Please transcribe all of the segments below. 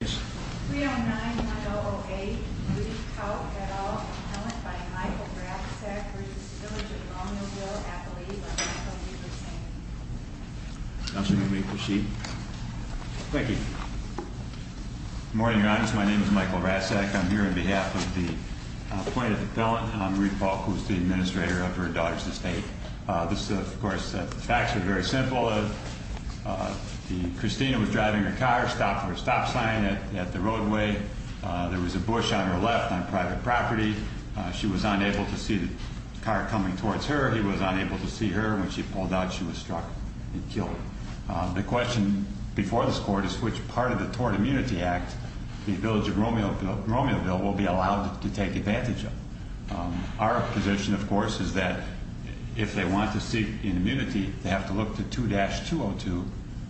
309-1008 Reed Pouk, et al. Appellant by Michael Rasek v. The Village of Romeoville Appellate by Michael Newkirkson Counselor, may we proceed? Thank you. Good morning, Your Honor. My name is Michael Rasek. I'm here on behalf of the appointed appellant, Marie Pouk, who is the administrator of her daughter's estate. This, of course, the facts are very simple. Christina was driving her car, stopped for a stop sign at the roadway. There was a bush on her left on private property. She was unable to see the car coming towards her. He was unable to see her. When she pulled out, she was struck and killed. The question before this Court is which part of the Tort Immunity Act the Village of Romeoville will be allowed to take advantage of. Our position, of course, is that if they want to seek an immunity, they have to look to 2-202,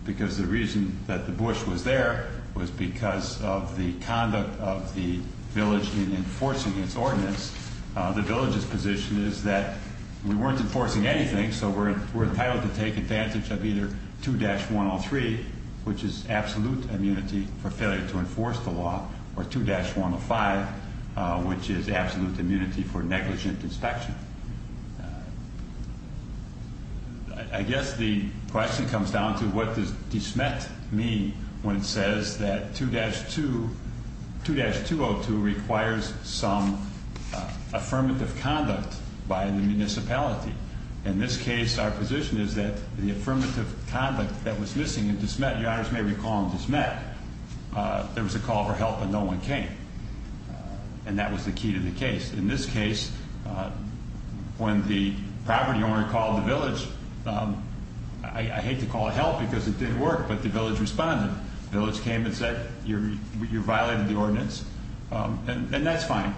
because the reason that the bush was there was because of the conduct of the village in enforcing its ordinance. The village's position is that we weren't enforcing anything, so we're entitled to take advantage of either 2-103, which is absolute immunity for failure to enforce the law, or 2-105, which is absolute immunity for negligent inspection. I guess the question comes down to what does dismet mean when it says that 2-202 requires some affirmative conduct by the municipality. In this case, our position is that the affirmative conduct that was missing in dismet, Your Honors may recall in dismet, there was a call for help, but no one came, and that was the key to the case. In this case, when the property owner called the village, I hate to call it help because it didn't work, but the village responded. The village came and said you violated the ordinance, and that's fine.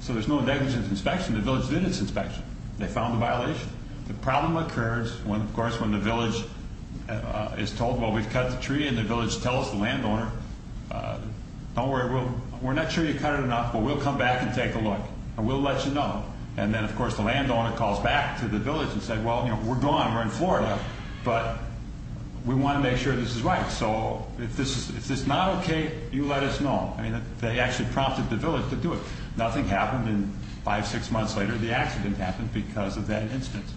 So there's no negligent inspection. The village did its inspection. They found a violation. The problem occurs, of course, when the village is told, well, we've cut the tree, and the village tells the landowner, don't worry, we're not sure you cut it enough, but we'll come back and take a look, and we'll let you know. And then, of course, the landowner calls back to the village and says, well, we're gone, we're in Florida, but we want to make sure this is right. So if this is not okay, you let us know. I mean, they actually prompted the village to do it. Nothing happened, and five, six months later, the accident happened because of that instance,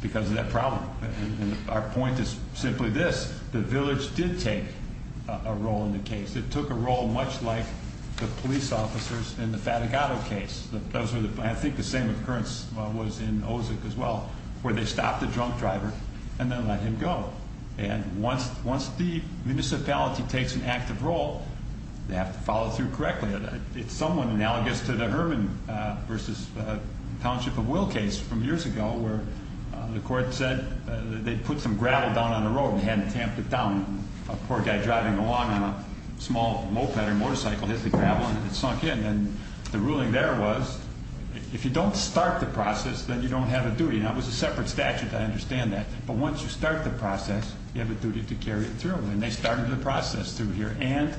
because of that problem. And our point is simply this. The village did take a role in the case. It took a role much like the police officers in the Fatigado case. I think the same occurrence was in Ozick as well, where they stopped the drunk driver and then let him go. And once the municipality takes an active role, they have to follow through correctly. It's somewhat analogous to the Herman v. Township of Will case from years ago, where the court said they put some gravel down on the road and hadn't tamped it down. A poor guy driving along on a small moped or motorcycle has the gravel, and it's sunk in. And the ruling there was if you don't start the process, then you don't have a duty. Now, it was a separate statute. I understand that. But once you start the process, you have a duty to carry it through. And they started the process through here, and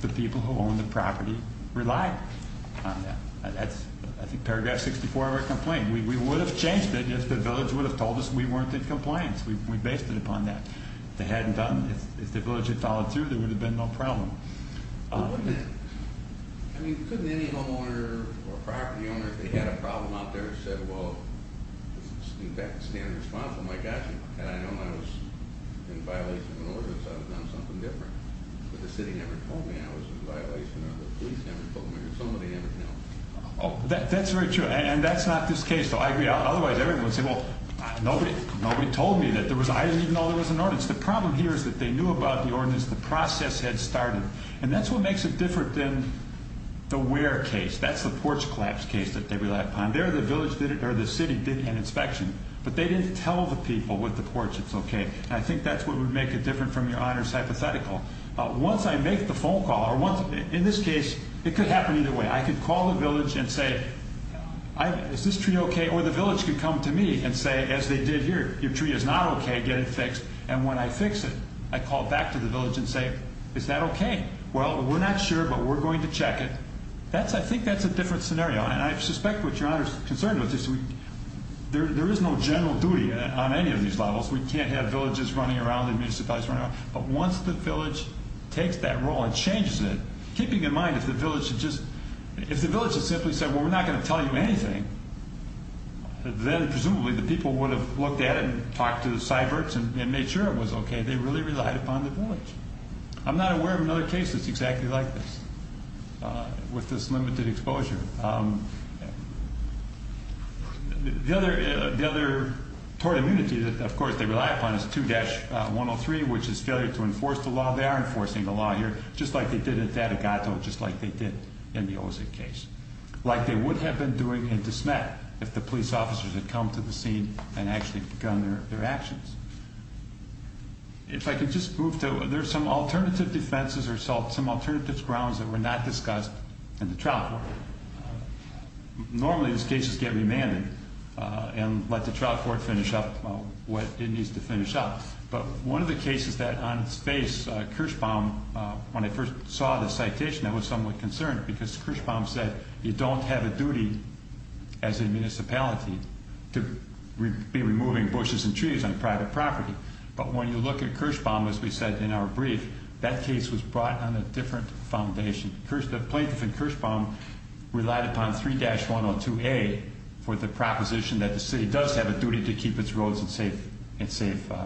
the people who own the property relied on that. That's, I think, paragraph 64 of our complaint. We would have changed it if the village would have told us we weren't in compliance. We based it upon that. If they hadn't done it, if the village had followed through, there would have been no problem. Well, wouldn't it? I mean, couldn't any homeowner or property owner, if they had a problem out there, have said, well, in fact, stand responsible? My gosh, had I known I was in violation of an ordinance, I would have done something different. But the city never told me I was in violation, or the police never told me, or somebody never told me. That's very true. And that's not this case, though. I agree. Otherwise, everyone would say, well, nobody told me. I didn't even know there was an ordinance. The problem here is that they knew about the ordinance the process had started, and that's what makes it different than the where case. That's the porch collapse case that they relied upon. There, the city did an inspection, but they didn't tell the people with the porch it's okay. I think that's what would make it different from your honors hypothetical. Once I make the phone call, or in this case, it could happen either way. I could call the village and say, is this tree okay? Or the village could come to me and say, as they did here, your tree is not okay. Get it fixed. And when I fix it, I call back to the village and say, is that okay? Well, we're not sure, but we're going to check it. I think that's a different scenario. And I suspect what your honor is concerned with is there is no general duty on any of these levels. We can't have villages running around and municipalities running around. But once the village takes that role and changes it, keeping in mind if the village had simply said, well, we're not going to tell you anything, then presumably the people would have looked at it and talked to the cyberts and made sure it was okay. They really relied upon the village. I'm not aware of another case that's exactly like this, with this limited exposure. The other tort immunity that, of course, they rely upon is 2-103, which is failure to enforce the law. They are enforcing the law here, just like they did at Datagato, just like they did in the Ozick case. Like they would have been doing in Desmet if the police officers had come to the scene and actually begun their actions. If I could just move to, there are some alternative defenses or some alternative grounds that were not discussed in the trial court. Normally these cases get remanded and let the trial court finish up what it needs to finish up. But one of the cases that on its face, Kirschbaum, when I first saw this citation, I was somewhat concerned because Kirschbaum said you don't have a duty as a municipality to be removing bushes and trees on private property. But when you look at Kirschbaum, as we said in our brief, that case was brought on a different foundation. The plaintiff in Kirschbaum relied upon 3-102A for the proposition that the city does have a duty to keep its roads in safe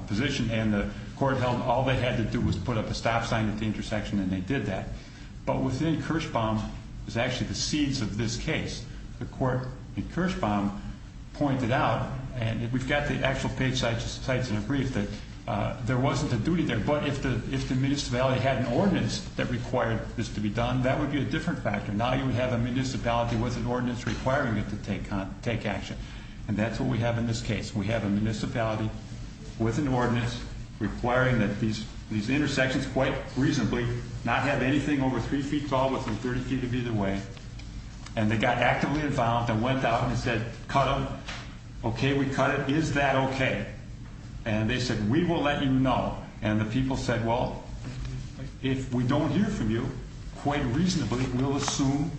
position. And the court held all they had to do was put up a stop sign at the intersection and they did that. But within Kirschbaum is actually the seeds of this case. The court in Kirschbaum pointed out, and we've got the actual page cited in the brief, that there wasn't a duty there. But if the municipality had an ordinance that required this to be done, that would be a different factor. Now you would have a municipality with an ordinance requiring it to take action. And that's what we have in this case. We have a municipality with an ordinance requiring that these intersections, quite reasonably, not have anything over 3 feet tall within 30 feet of either way. And they got actively involved and went out and said, cut them. Okay, we cut it. Is that okay? And they said, we will let you know. And the people said, well, if we don't hear from you, quite reasonably, we'll assume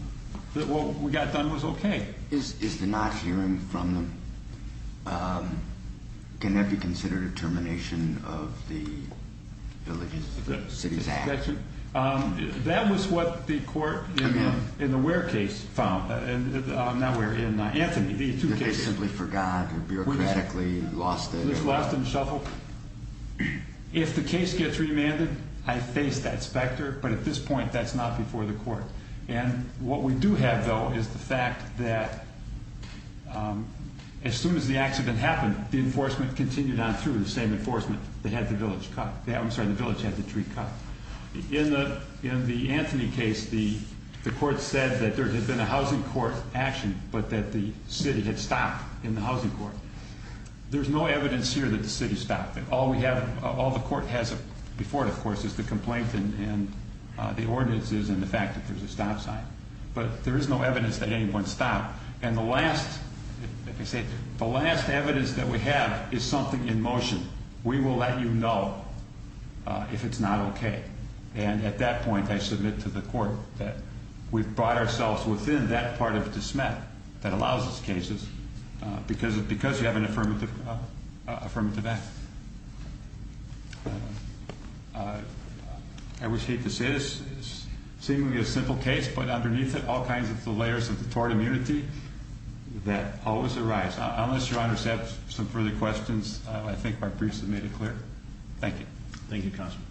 that what we got done was okay. Is the not hearing from them, can that be considered a termination of the Village Cities Act? That was what the court in the Ware case found. Now we're in Anthony. They simply forgot or bureaucratically lost it. Lost and shuffled. If the case gets remanded, I face that specter. But at this point, that's not before the court. And what we do have, though, is the fact that as soon as the accident happened, the enforcement continued on through the same enforcement. They had the village cut. I'm sorry, the village had the tree cut. In the Anthony case, the court said that there had been a housing court action, but that the city had stopped in the housing court. There's no evidence here that the city stopped it. All the court has before it, of course, is the complaint and the ordinances and the fact that there's a stop sign. But there is no evidence that anyone stopped. And the last evidence that we have is something in motion. We will let you know if it's not okay. And at that point, I submit to the court that we've brought ourselves within that part of dismay that allows these cases because you have an affirmative act. I always hate to say this. It's seemingly a simple case, but underneath it, all kinds of layers of tort immunity that always arise. Unless your honors have some further questions, I think our briefs have made it clear. Thank you. Thank you, Counselor.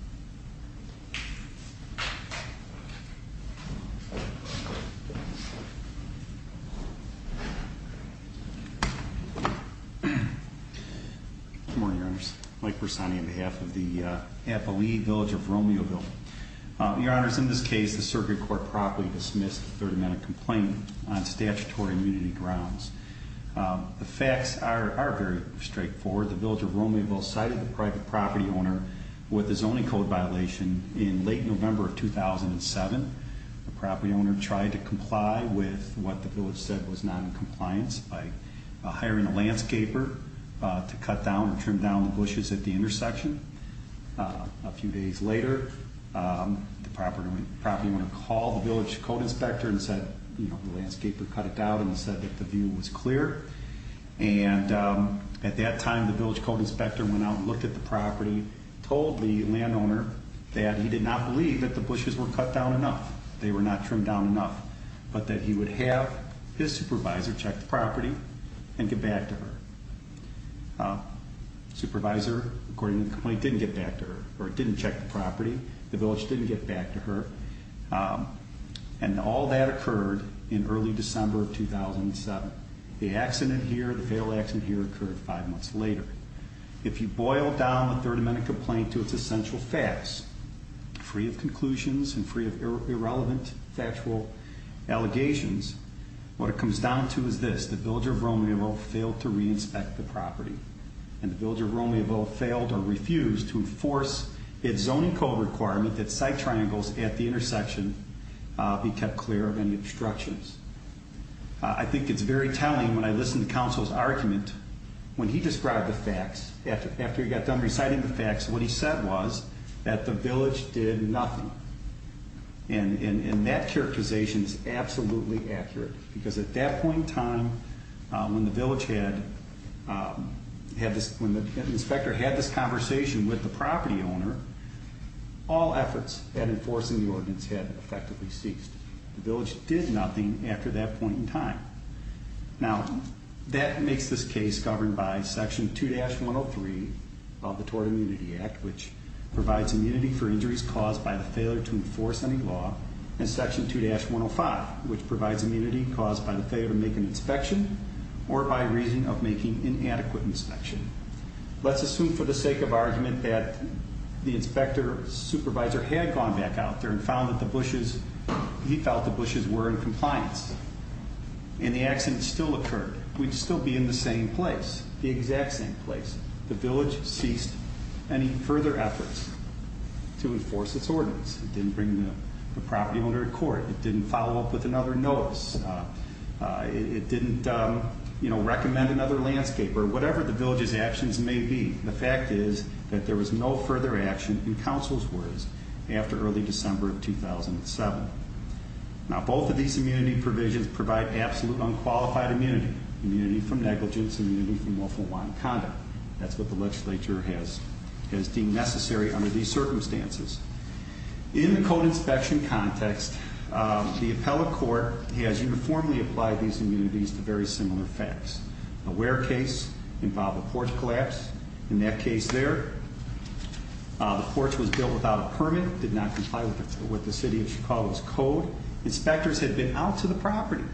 Good morning, Your Honors. Mike Persani on behalf of the Appali village of Romeoville. Your Honors, in this case, the circuit court properly dismissed the third amendment complaint on statutory immunity grounds. The facts are very straightforward. The village of Romeoville cited the private property owner with a zoning code violation in late November of 2007. The property owner tried to comply with what the village said was not in compliance by hiring a landscaper to cut down or trim down the bushes at the intersection. A few days later, the property owner called the village code inspector and said, you know, the landscaper cut it down and said that the view was clear. And at that time, the village code inspector went out and looked at the property, told the landowner that he did not believe that the bushes were cut down enough. They were not trimmed down enough, but that he would have his supervisor check the property and get back to her. Supervisor, according to the complaint, didn't get back to her or didn't check the property. The village didn't get back to her. And all that occurred in early December of 2007. The accident here, the failed accident here, occurred five months later. If you boil down the third amendment complaint to its essential facts, free of conclusions and free of irrelevant factual allegations, what it comes down to is this. The village of Romeoville failed to re-inspect the property. And the village of Romeoville failed or refused to enforce its zoning code requirement that site triangles at the intersection be kept clear of any obstructions. I think it's very telling when I listen to counsel's argument. When he described the facts, after he got done reciting the facts, what he said was that the village did nothing. And that characterization is absolutely accurate. Because at that point in time, when the inspector had this conversation with the property owner, all efforts at enforcing the ordinance had effectively ceased. The village did nothing after that point in time. Now, that makes this case governed by section 2-103 of the Tort Immunity Act, which provides immunity for injuries caused by the failure to enforce any law, and section 2-105, which provides immunity caused by the failure to make an inspection or by reason of making inadequate inspection. Let's assume for the sake of argument that the inspector supervisor had gone back out there and found that the bushes, he felt the bushes were in compliance. And the accident still occurred. We'd still be in the same place, the exact same place. The village ceased any further efforts to enforce its ordinance. It didn't bring the property owner to court. It didn't follow up with another notice. It didn't, you know, recommend another landscape or whatever the village's actions may be. The fact is that there was no further action in counsel's words after early December of 2007. Now, both of these immunity provisions provide absolute unqualified immunity, immunity from negligence, immunity from lawful wanted conduct. That's what the legislature has deemed necessary under these circumstances. In the code inspection context, the appellate court has uniformly applied these immunities to very similar facts. The Ware case involved a porch collapse. In that case there, the porch was built without a permit, did not comply with the city of Chicago's code. Inspectors had been out to the property,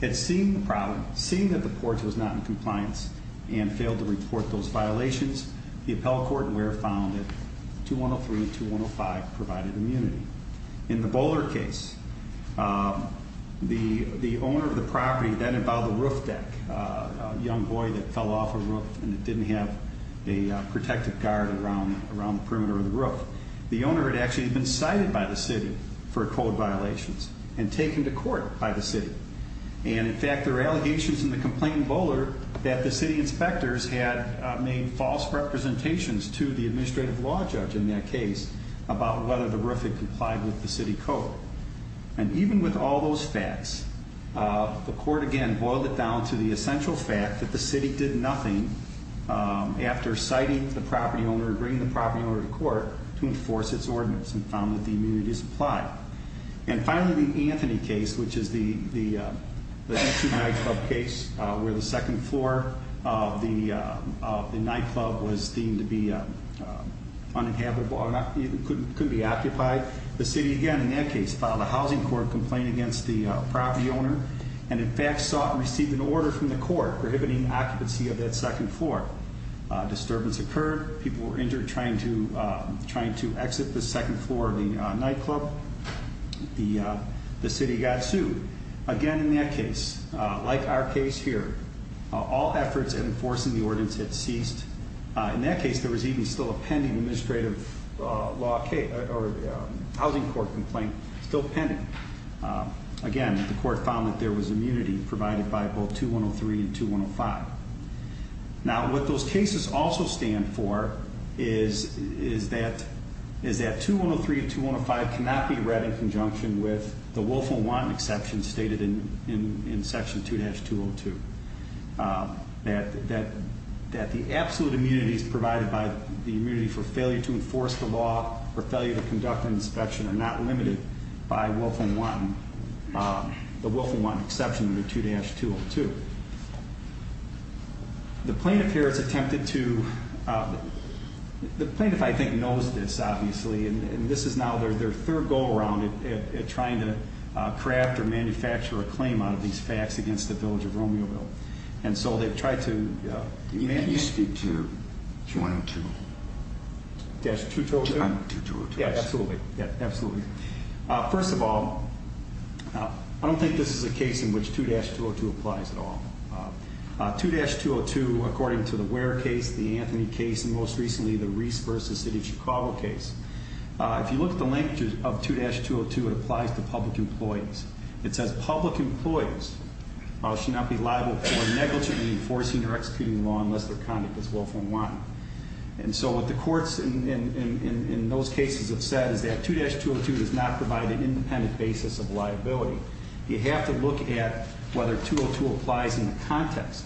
had seen the problem, seen that the porch was not in compliance, and failed to report those violations. The appellate court in Ware found that 2103 and 2105 provided immunity. In the Bowler case, the owner of the property then involved a roof deck, a young boy that fell off a roof and didn't have a protective guard around the perimeter of the roof. The owner had actually been cited by the city for code violations and taken to court by the city. And in fact, there are allegations in the complaint in Bowler that the city inspectors had made false representations to the administrative law judge in that case about whether the roof had complied with the city code. And even with all those facts, the court again boiled it down to the essential fact that the city did nothing after citing the property owner or bringing the property owner to court to enforce its ordinance and found that the immunity was applied. And finally, the Anthony case, which is the nightclub case, where the second floor of the nightclub was deemed to be uninhabitable, couldn't be occupied. The city, again, in that case, filed a housing court complaint against the property owner and in fact received an order from the court prohibiting occupancy of that second floor. Disturbance occurred. People were injured trying to exit the second floor of the nightclub. The city got sued. Again, in that case, like our case here, all efforts at enforcing the ordinance had ceased. In that case, there was even still a pending administrative law case or housing court complaint, still pending. Again, the court found that there was immunity provided by both 2103 and 2105. Now, what those cases also stand for is that 2103 and 2105 cannot be read in conjunction with the Wolf and Wanton exception stated in section 2-202. That the absolute immunities provided by the immunity for failure to enforce the law or failure to conduct an inspection are not limited by the Wolf and Wanton exception under 2-202. The plaintiff here has attempted to, the plaintiff, I think, knows this, obviously. And this is now their third go around at trying to craft or manufacture a claim out of these facts against the Village of Romeoville. And so they've tried to... Can you speak to 2-202? 2-202? 2-202. Yeah, absolutely. Yeah, absolutely. First of all, I don't think this is a case in which 2-202 applies at all. 2-202, according to the Ware case, the Anthony case, and most recently the Reese v. City of Chicago case, if you look at the language of 2-202, it applies to public employees. It says, public employees shall not be liable for negligently enforcing or executing the law unless their conduct is Wolf and Wanton. And so what the courts in those cases have said is that 2-202 does not provide an independent basis of liability. You have to look at whether 2-202 applies in the context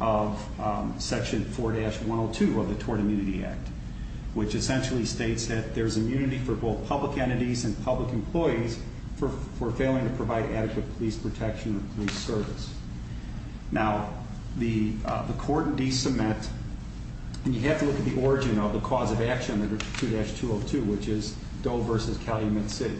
of Section 4-102 of the Tort Immunity Act, which essentially states that there's immunity for both public entities and public employees for failing to provide adequate police protection or police service. Now, the court de-submit, and you have to look at the origin of the cause of action under 2-202, which is Doe v. Calumet City,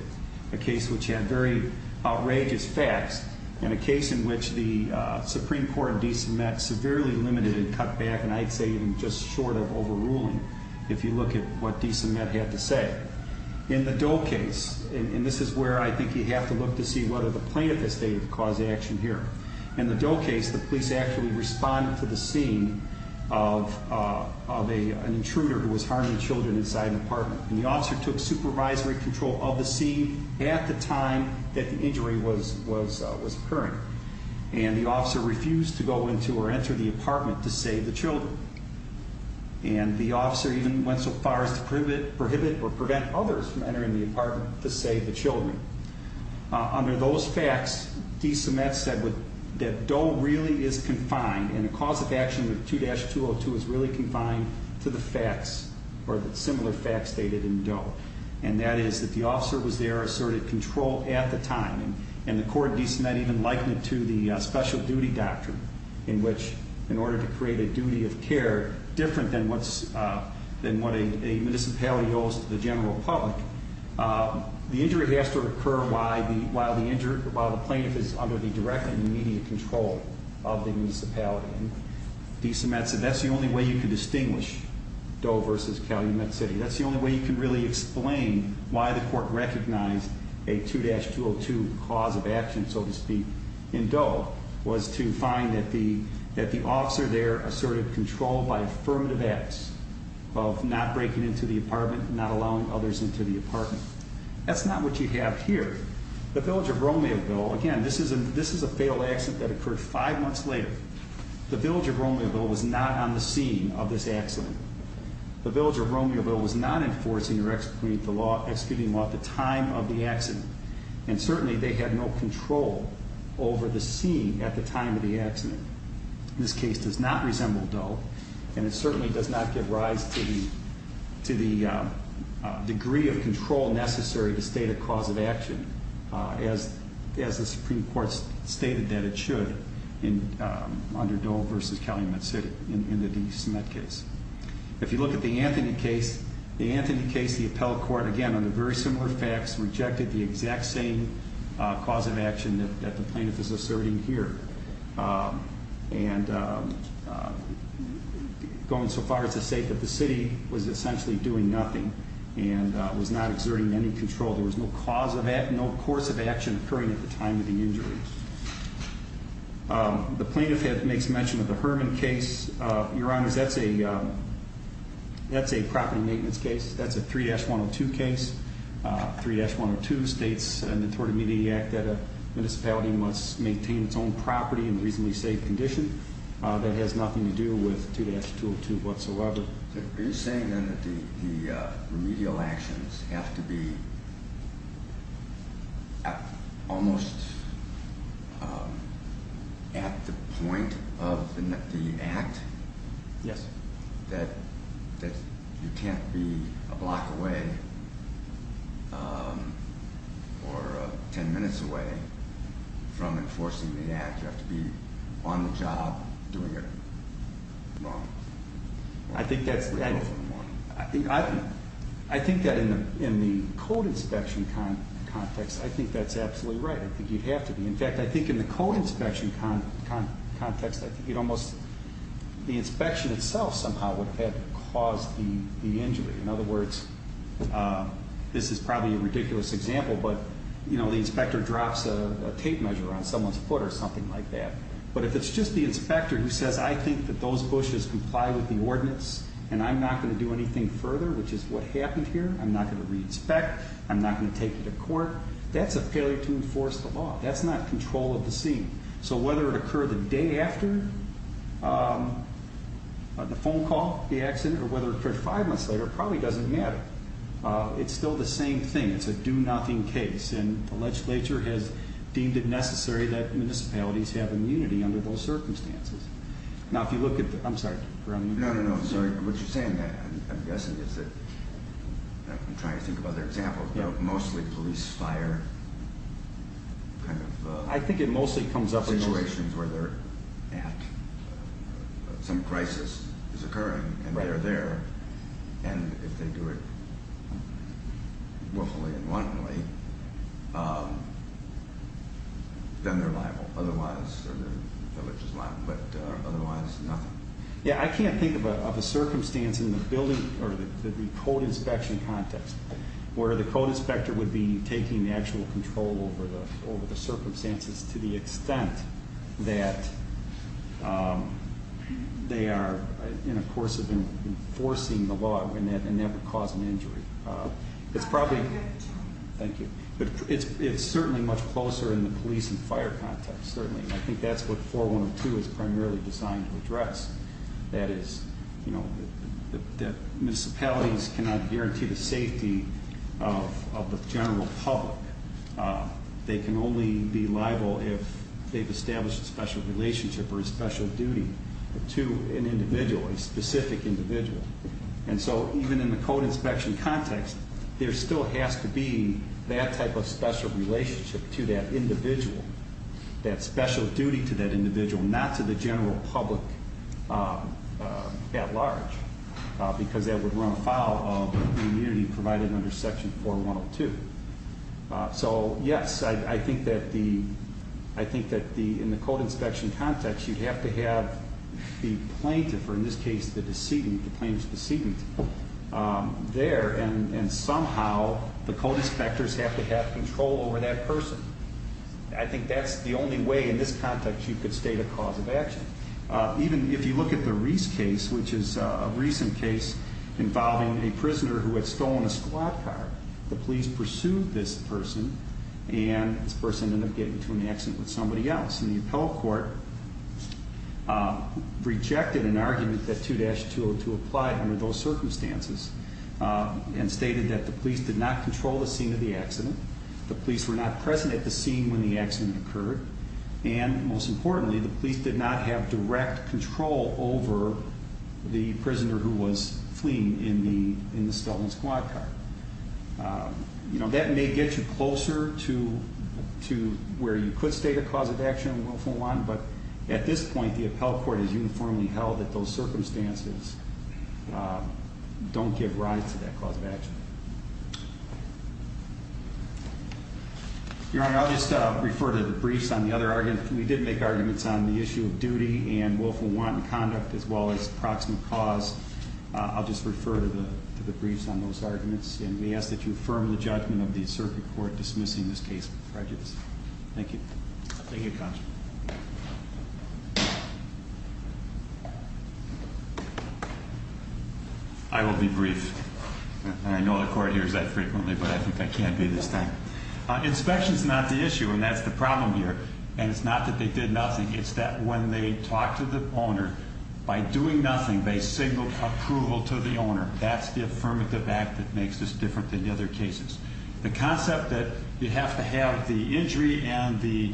a case which had very outrageous facts and a case in which the Supreme Court de-submit severely limited and cut back, and I'd say even just short of overruling if you look at what de-submit had to say. In the Doe case, and this is where I think you have to look to see whether the plaintiff has stated the cause of action here. In the Doe case, the police actually responded to the scene of an intruder who was harming children inside an apartment. And the officer took supervisory control of the scene at the time that the injury was occurring. And the officer refused to go into or enter the apartment to save the children. And the officer even went so far as to prohibit or prevent others from entering the apartment to save the children. Under those facts, de-submit said that Doe really is confined, and the cause of action under 2-202 is really confined to the facts or the similar facts stated in Doe. And that is that the officer was there, asserted control at the time, and the court de-submit even likened it to the special duty doctrine, in which in order to create a duty of care different than what a municipality owes to the general public, the injury has to occur while the plaintiff is under the direct and immediate control of the municipality. De-submit said that's the only way you can distinguish Doe versus Calumet City. That's the only way you can really explain why the court recognized a 2-202 cause of action, so to speak, in Doe, was to find that the officer there asserted control by affirmative acts of not breaking into the apartment, not allowing others into the apartment. That's not what you have here. The Village of Romeoville, again, this is a failed accident that occurred five months later. The Village of Romeoville was not on the scene of this accident. The Village of Romeoville was not enforcing or executing the law at the time of the accident, and certainly they had no control over the scene at the time of the accident. This case does not resemble Doe, and it certainly does not give rise to the degree of control necessary to state a cause of action, as the Supreme Court stated that it should under Doe versus Calumet City in the de-submit case. If you look at the Anthony case, the Anthony case, the appellate court, again, under very similar facts, rejected the exact same cause of action that the plaintiff is asserting here, and going so far as to say that the city was essentially doing nothing and was not exerting any control. There was no cause of action, no course of action occurring at the time of the injury. The plaintiff makes mention of the Herman case. Your Honors, that's a property maintenance case. That's a 3-102 case. 3-102 states in the Tort of Mediacy Act that a municipality must maintain its own property in a reasonably safe condition. That has nothing to do with 2-202 whatsoever. Are you saying, then, that the remedial actions have to be almost at the point of the act? Yes. That you can't be a block away or 10 minutes away from enforcing the act. You have to be on the job doing it. I think that in the code inspection context, I think that's absolutely right. I think you'd have to be. In fact, I think in the code inspection context, the inspection itself somehow would have had to cause the injury. In other words, this is probably a ridiculous example, but the inspector drops a tape measure on someone's foot or something like that. But if it's just the inspector who says, I think that those bushes comply with the ordinance, and I'm not going to do anything further, which is what happened here, I'm not going to re-inspect, I'm not going to take it to court, that's a failure to enforce the law. That's not control of the scene. So whether it occurred the day after the phone call, the accident, or whether it occurred five months later, it probably doesn't matter. It's still the same thing. It's a do-nothing case. And the legislature has deemed it necessary that municipalities have immunity under those circumstances. Now, if you look at the, I'm sorry. No, no, no, I'm sorry. What you're saying, I'm guessing, is that, I'm trying to think of other examples, but mostly police fire kind of situations where some crisis is occurring and they're there. And if they do it willfully and wantonly, then they're liable. Otherwise, the village is liable. But otherwise, nothing. Yeah, I can't think of a circumstance in the building, or the code inspection context, where the code inspector would be taking actual control over the circumstances to the extent that they are in a course of enforcing the law and that would cause an injury. It's probably, thank you. But it's certainly much closer in the police and fire context, certainly. And I think that's what 4102 is primarily designed to address. That is, municipalities cannot guarantee the safety of the general public. They can only be liable if they've established a special relationship or a special duty to an individual, a specific individual. And so even in the code inspection context, there still has to be that type of special relationship to that individual, that special duty to that individual, not to the general public at large, because that would run afoul of the immunity provided under Section 4102. So, yes, I think that in the code inspection context, you'd have to have the plaintiff, or in this case the decedent, the plaintiff's decedent, there, and somehow the code inspectors have to have control over that person. I think that's the only way in this context you could state a cause of action. Even if you look at the Reese case, which is a recent case involving a prisoner who had stolen a squad car, the police pursued this person, and this person ended up getting into an accident with somebody else. And the appellate court rejected an argument that 2-202 applied under those circumstances and stated that the police did not control the scene of the accident, the police were not present at the scene when the accident occurred, and, most importantly, the police did not have direct control over the prisoner who was fleeing in the stolen squad car. You know, that may get you closer to where you could state a cause of action and willful one, but at this point the appellate court has uniformly held that those circumstances don't give rise to that cause of action. Your Honor, I'll just refer to the briefs on the other arguments. We did make arguments on the issue of duty and willful wanton conduct as well as proximate cause. I'll just refer to the briefs on those arguments, and we ask that you affirm the judgment of the appellate court dismissing this case with prejudice. Thank you. Thank you, counsel. I will be brief. I know the court hears that frequently, but I think I can't be this time. Inspection is not the issue, and that's the problem here. And it's not that they did nothing. It's that when they talked to the owner, by doing nothing they signaled approval to the owner. That's the affirmative act that makes this different than the other cases. The concept that you have to have the injury and the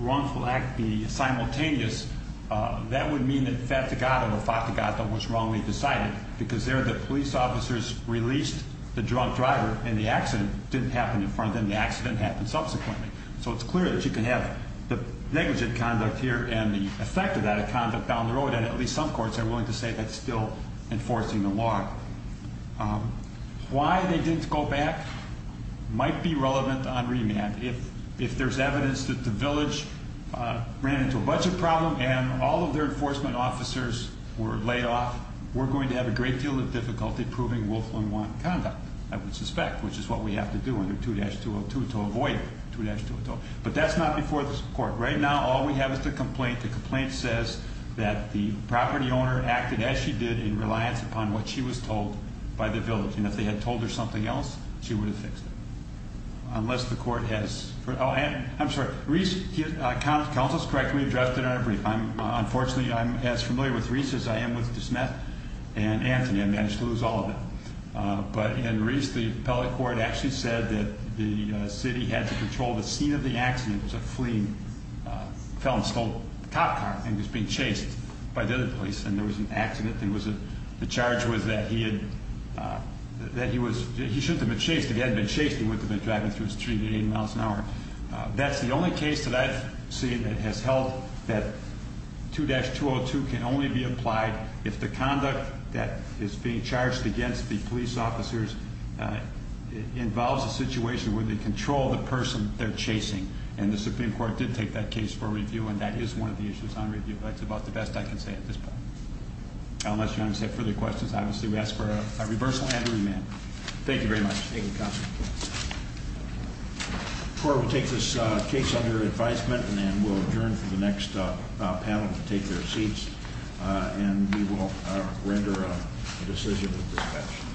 wrongful act be simultaneous, that would mean that fatigata or fatigata was wrongly decided because there the police officers released the drunk driver and the accident didn't happen in front of them. The accident happened subsequently. So it's clear that you can have the negligent conduct here and the effect of that conduct down the road, and at least some courts are willing to say that's still enforcing the law. Why they didn't go back might be relevant on remand. If there's evidence that the village ran into a budget problem and all of their enforcement officers were laid off, we're going to have a great deal of difficulty proving Wolfman wanted conduct, I would suspect, which is what we have to do under 2-202 to avoid 2-202. But that's not before this court. Right now all we have is the complaint. The complaint says that the property owner acted as she did in reliance upon what she was told by the village, and if they had told her something else, she would have fixed it. Unless the court has... Oh, I'm sorry. Reese counsels correctly addressed it in our brief. Unfortunately, I'm as familiar with Reese as I am with DeSmet and Anthony. I managed to lose all of them. But in Reese, the appellate court actually said that the city had to control the scene of the accident. It was a fleeing felon who stole a cop car and was being chased by the other police, and there was an accident. The charge was that he should have been chased. If he hadn't been chased, he wouldn't have been driving through the street at 80 miles an hour. That's the only case that I've seen that has held that 2-202 can only be applied if the conduct that is being charged against the police officers involves a situation where they control the person they're chasing, and the Supreme Court did take that case for review, and that is one of the issues on review. That's about the best I can say at this point. Unless Your Honor has any further questions, obviously we ask for a reversal and remand. Thank you very much. Thank you, counsel. The court will take this case under advisement, and then we'll adjourn for the next panel to take their seats, and we will render a decision at this time.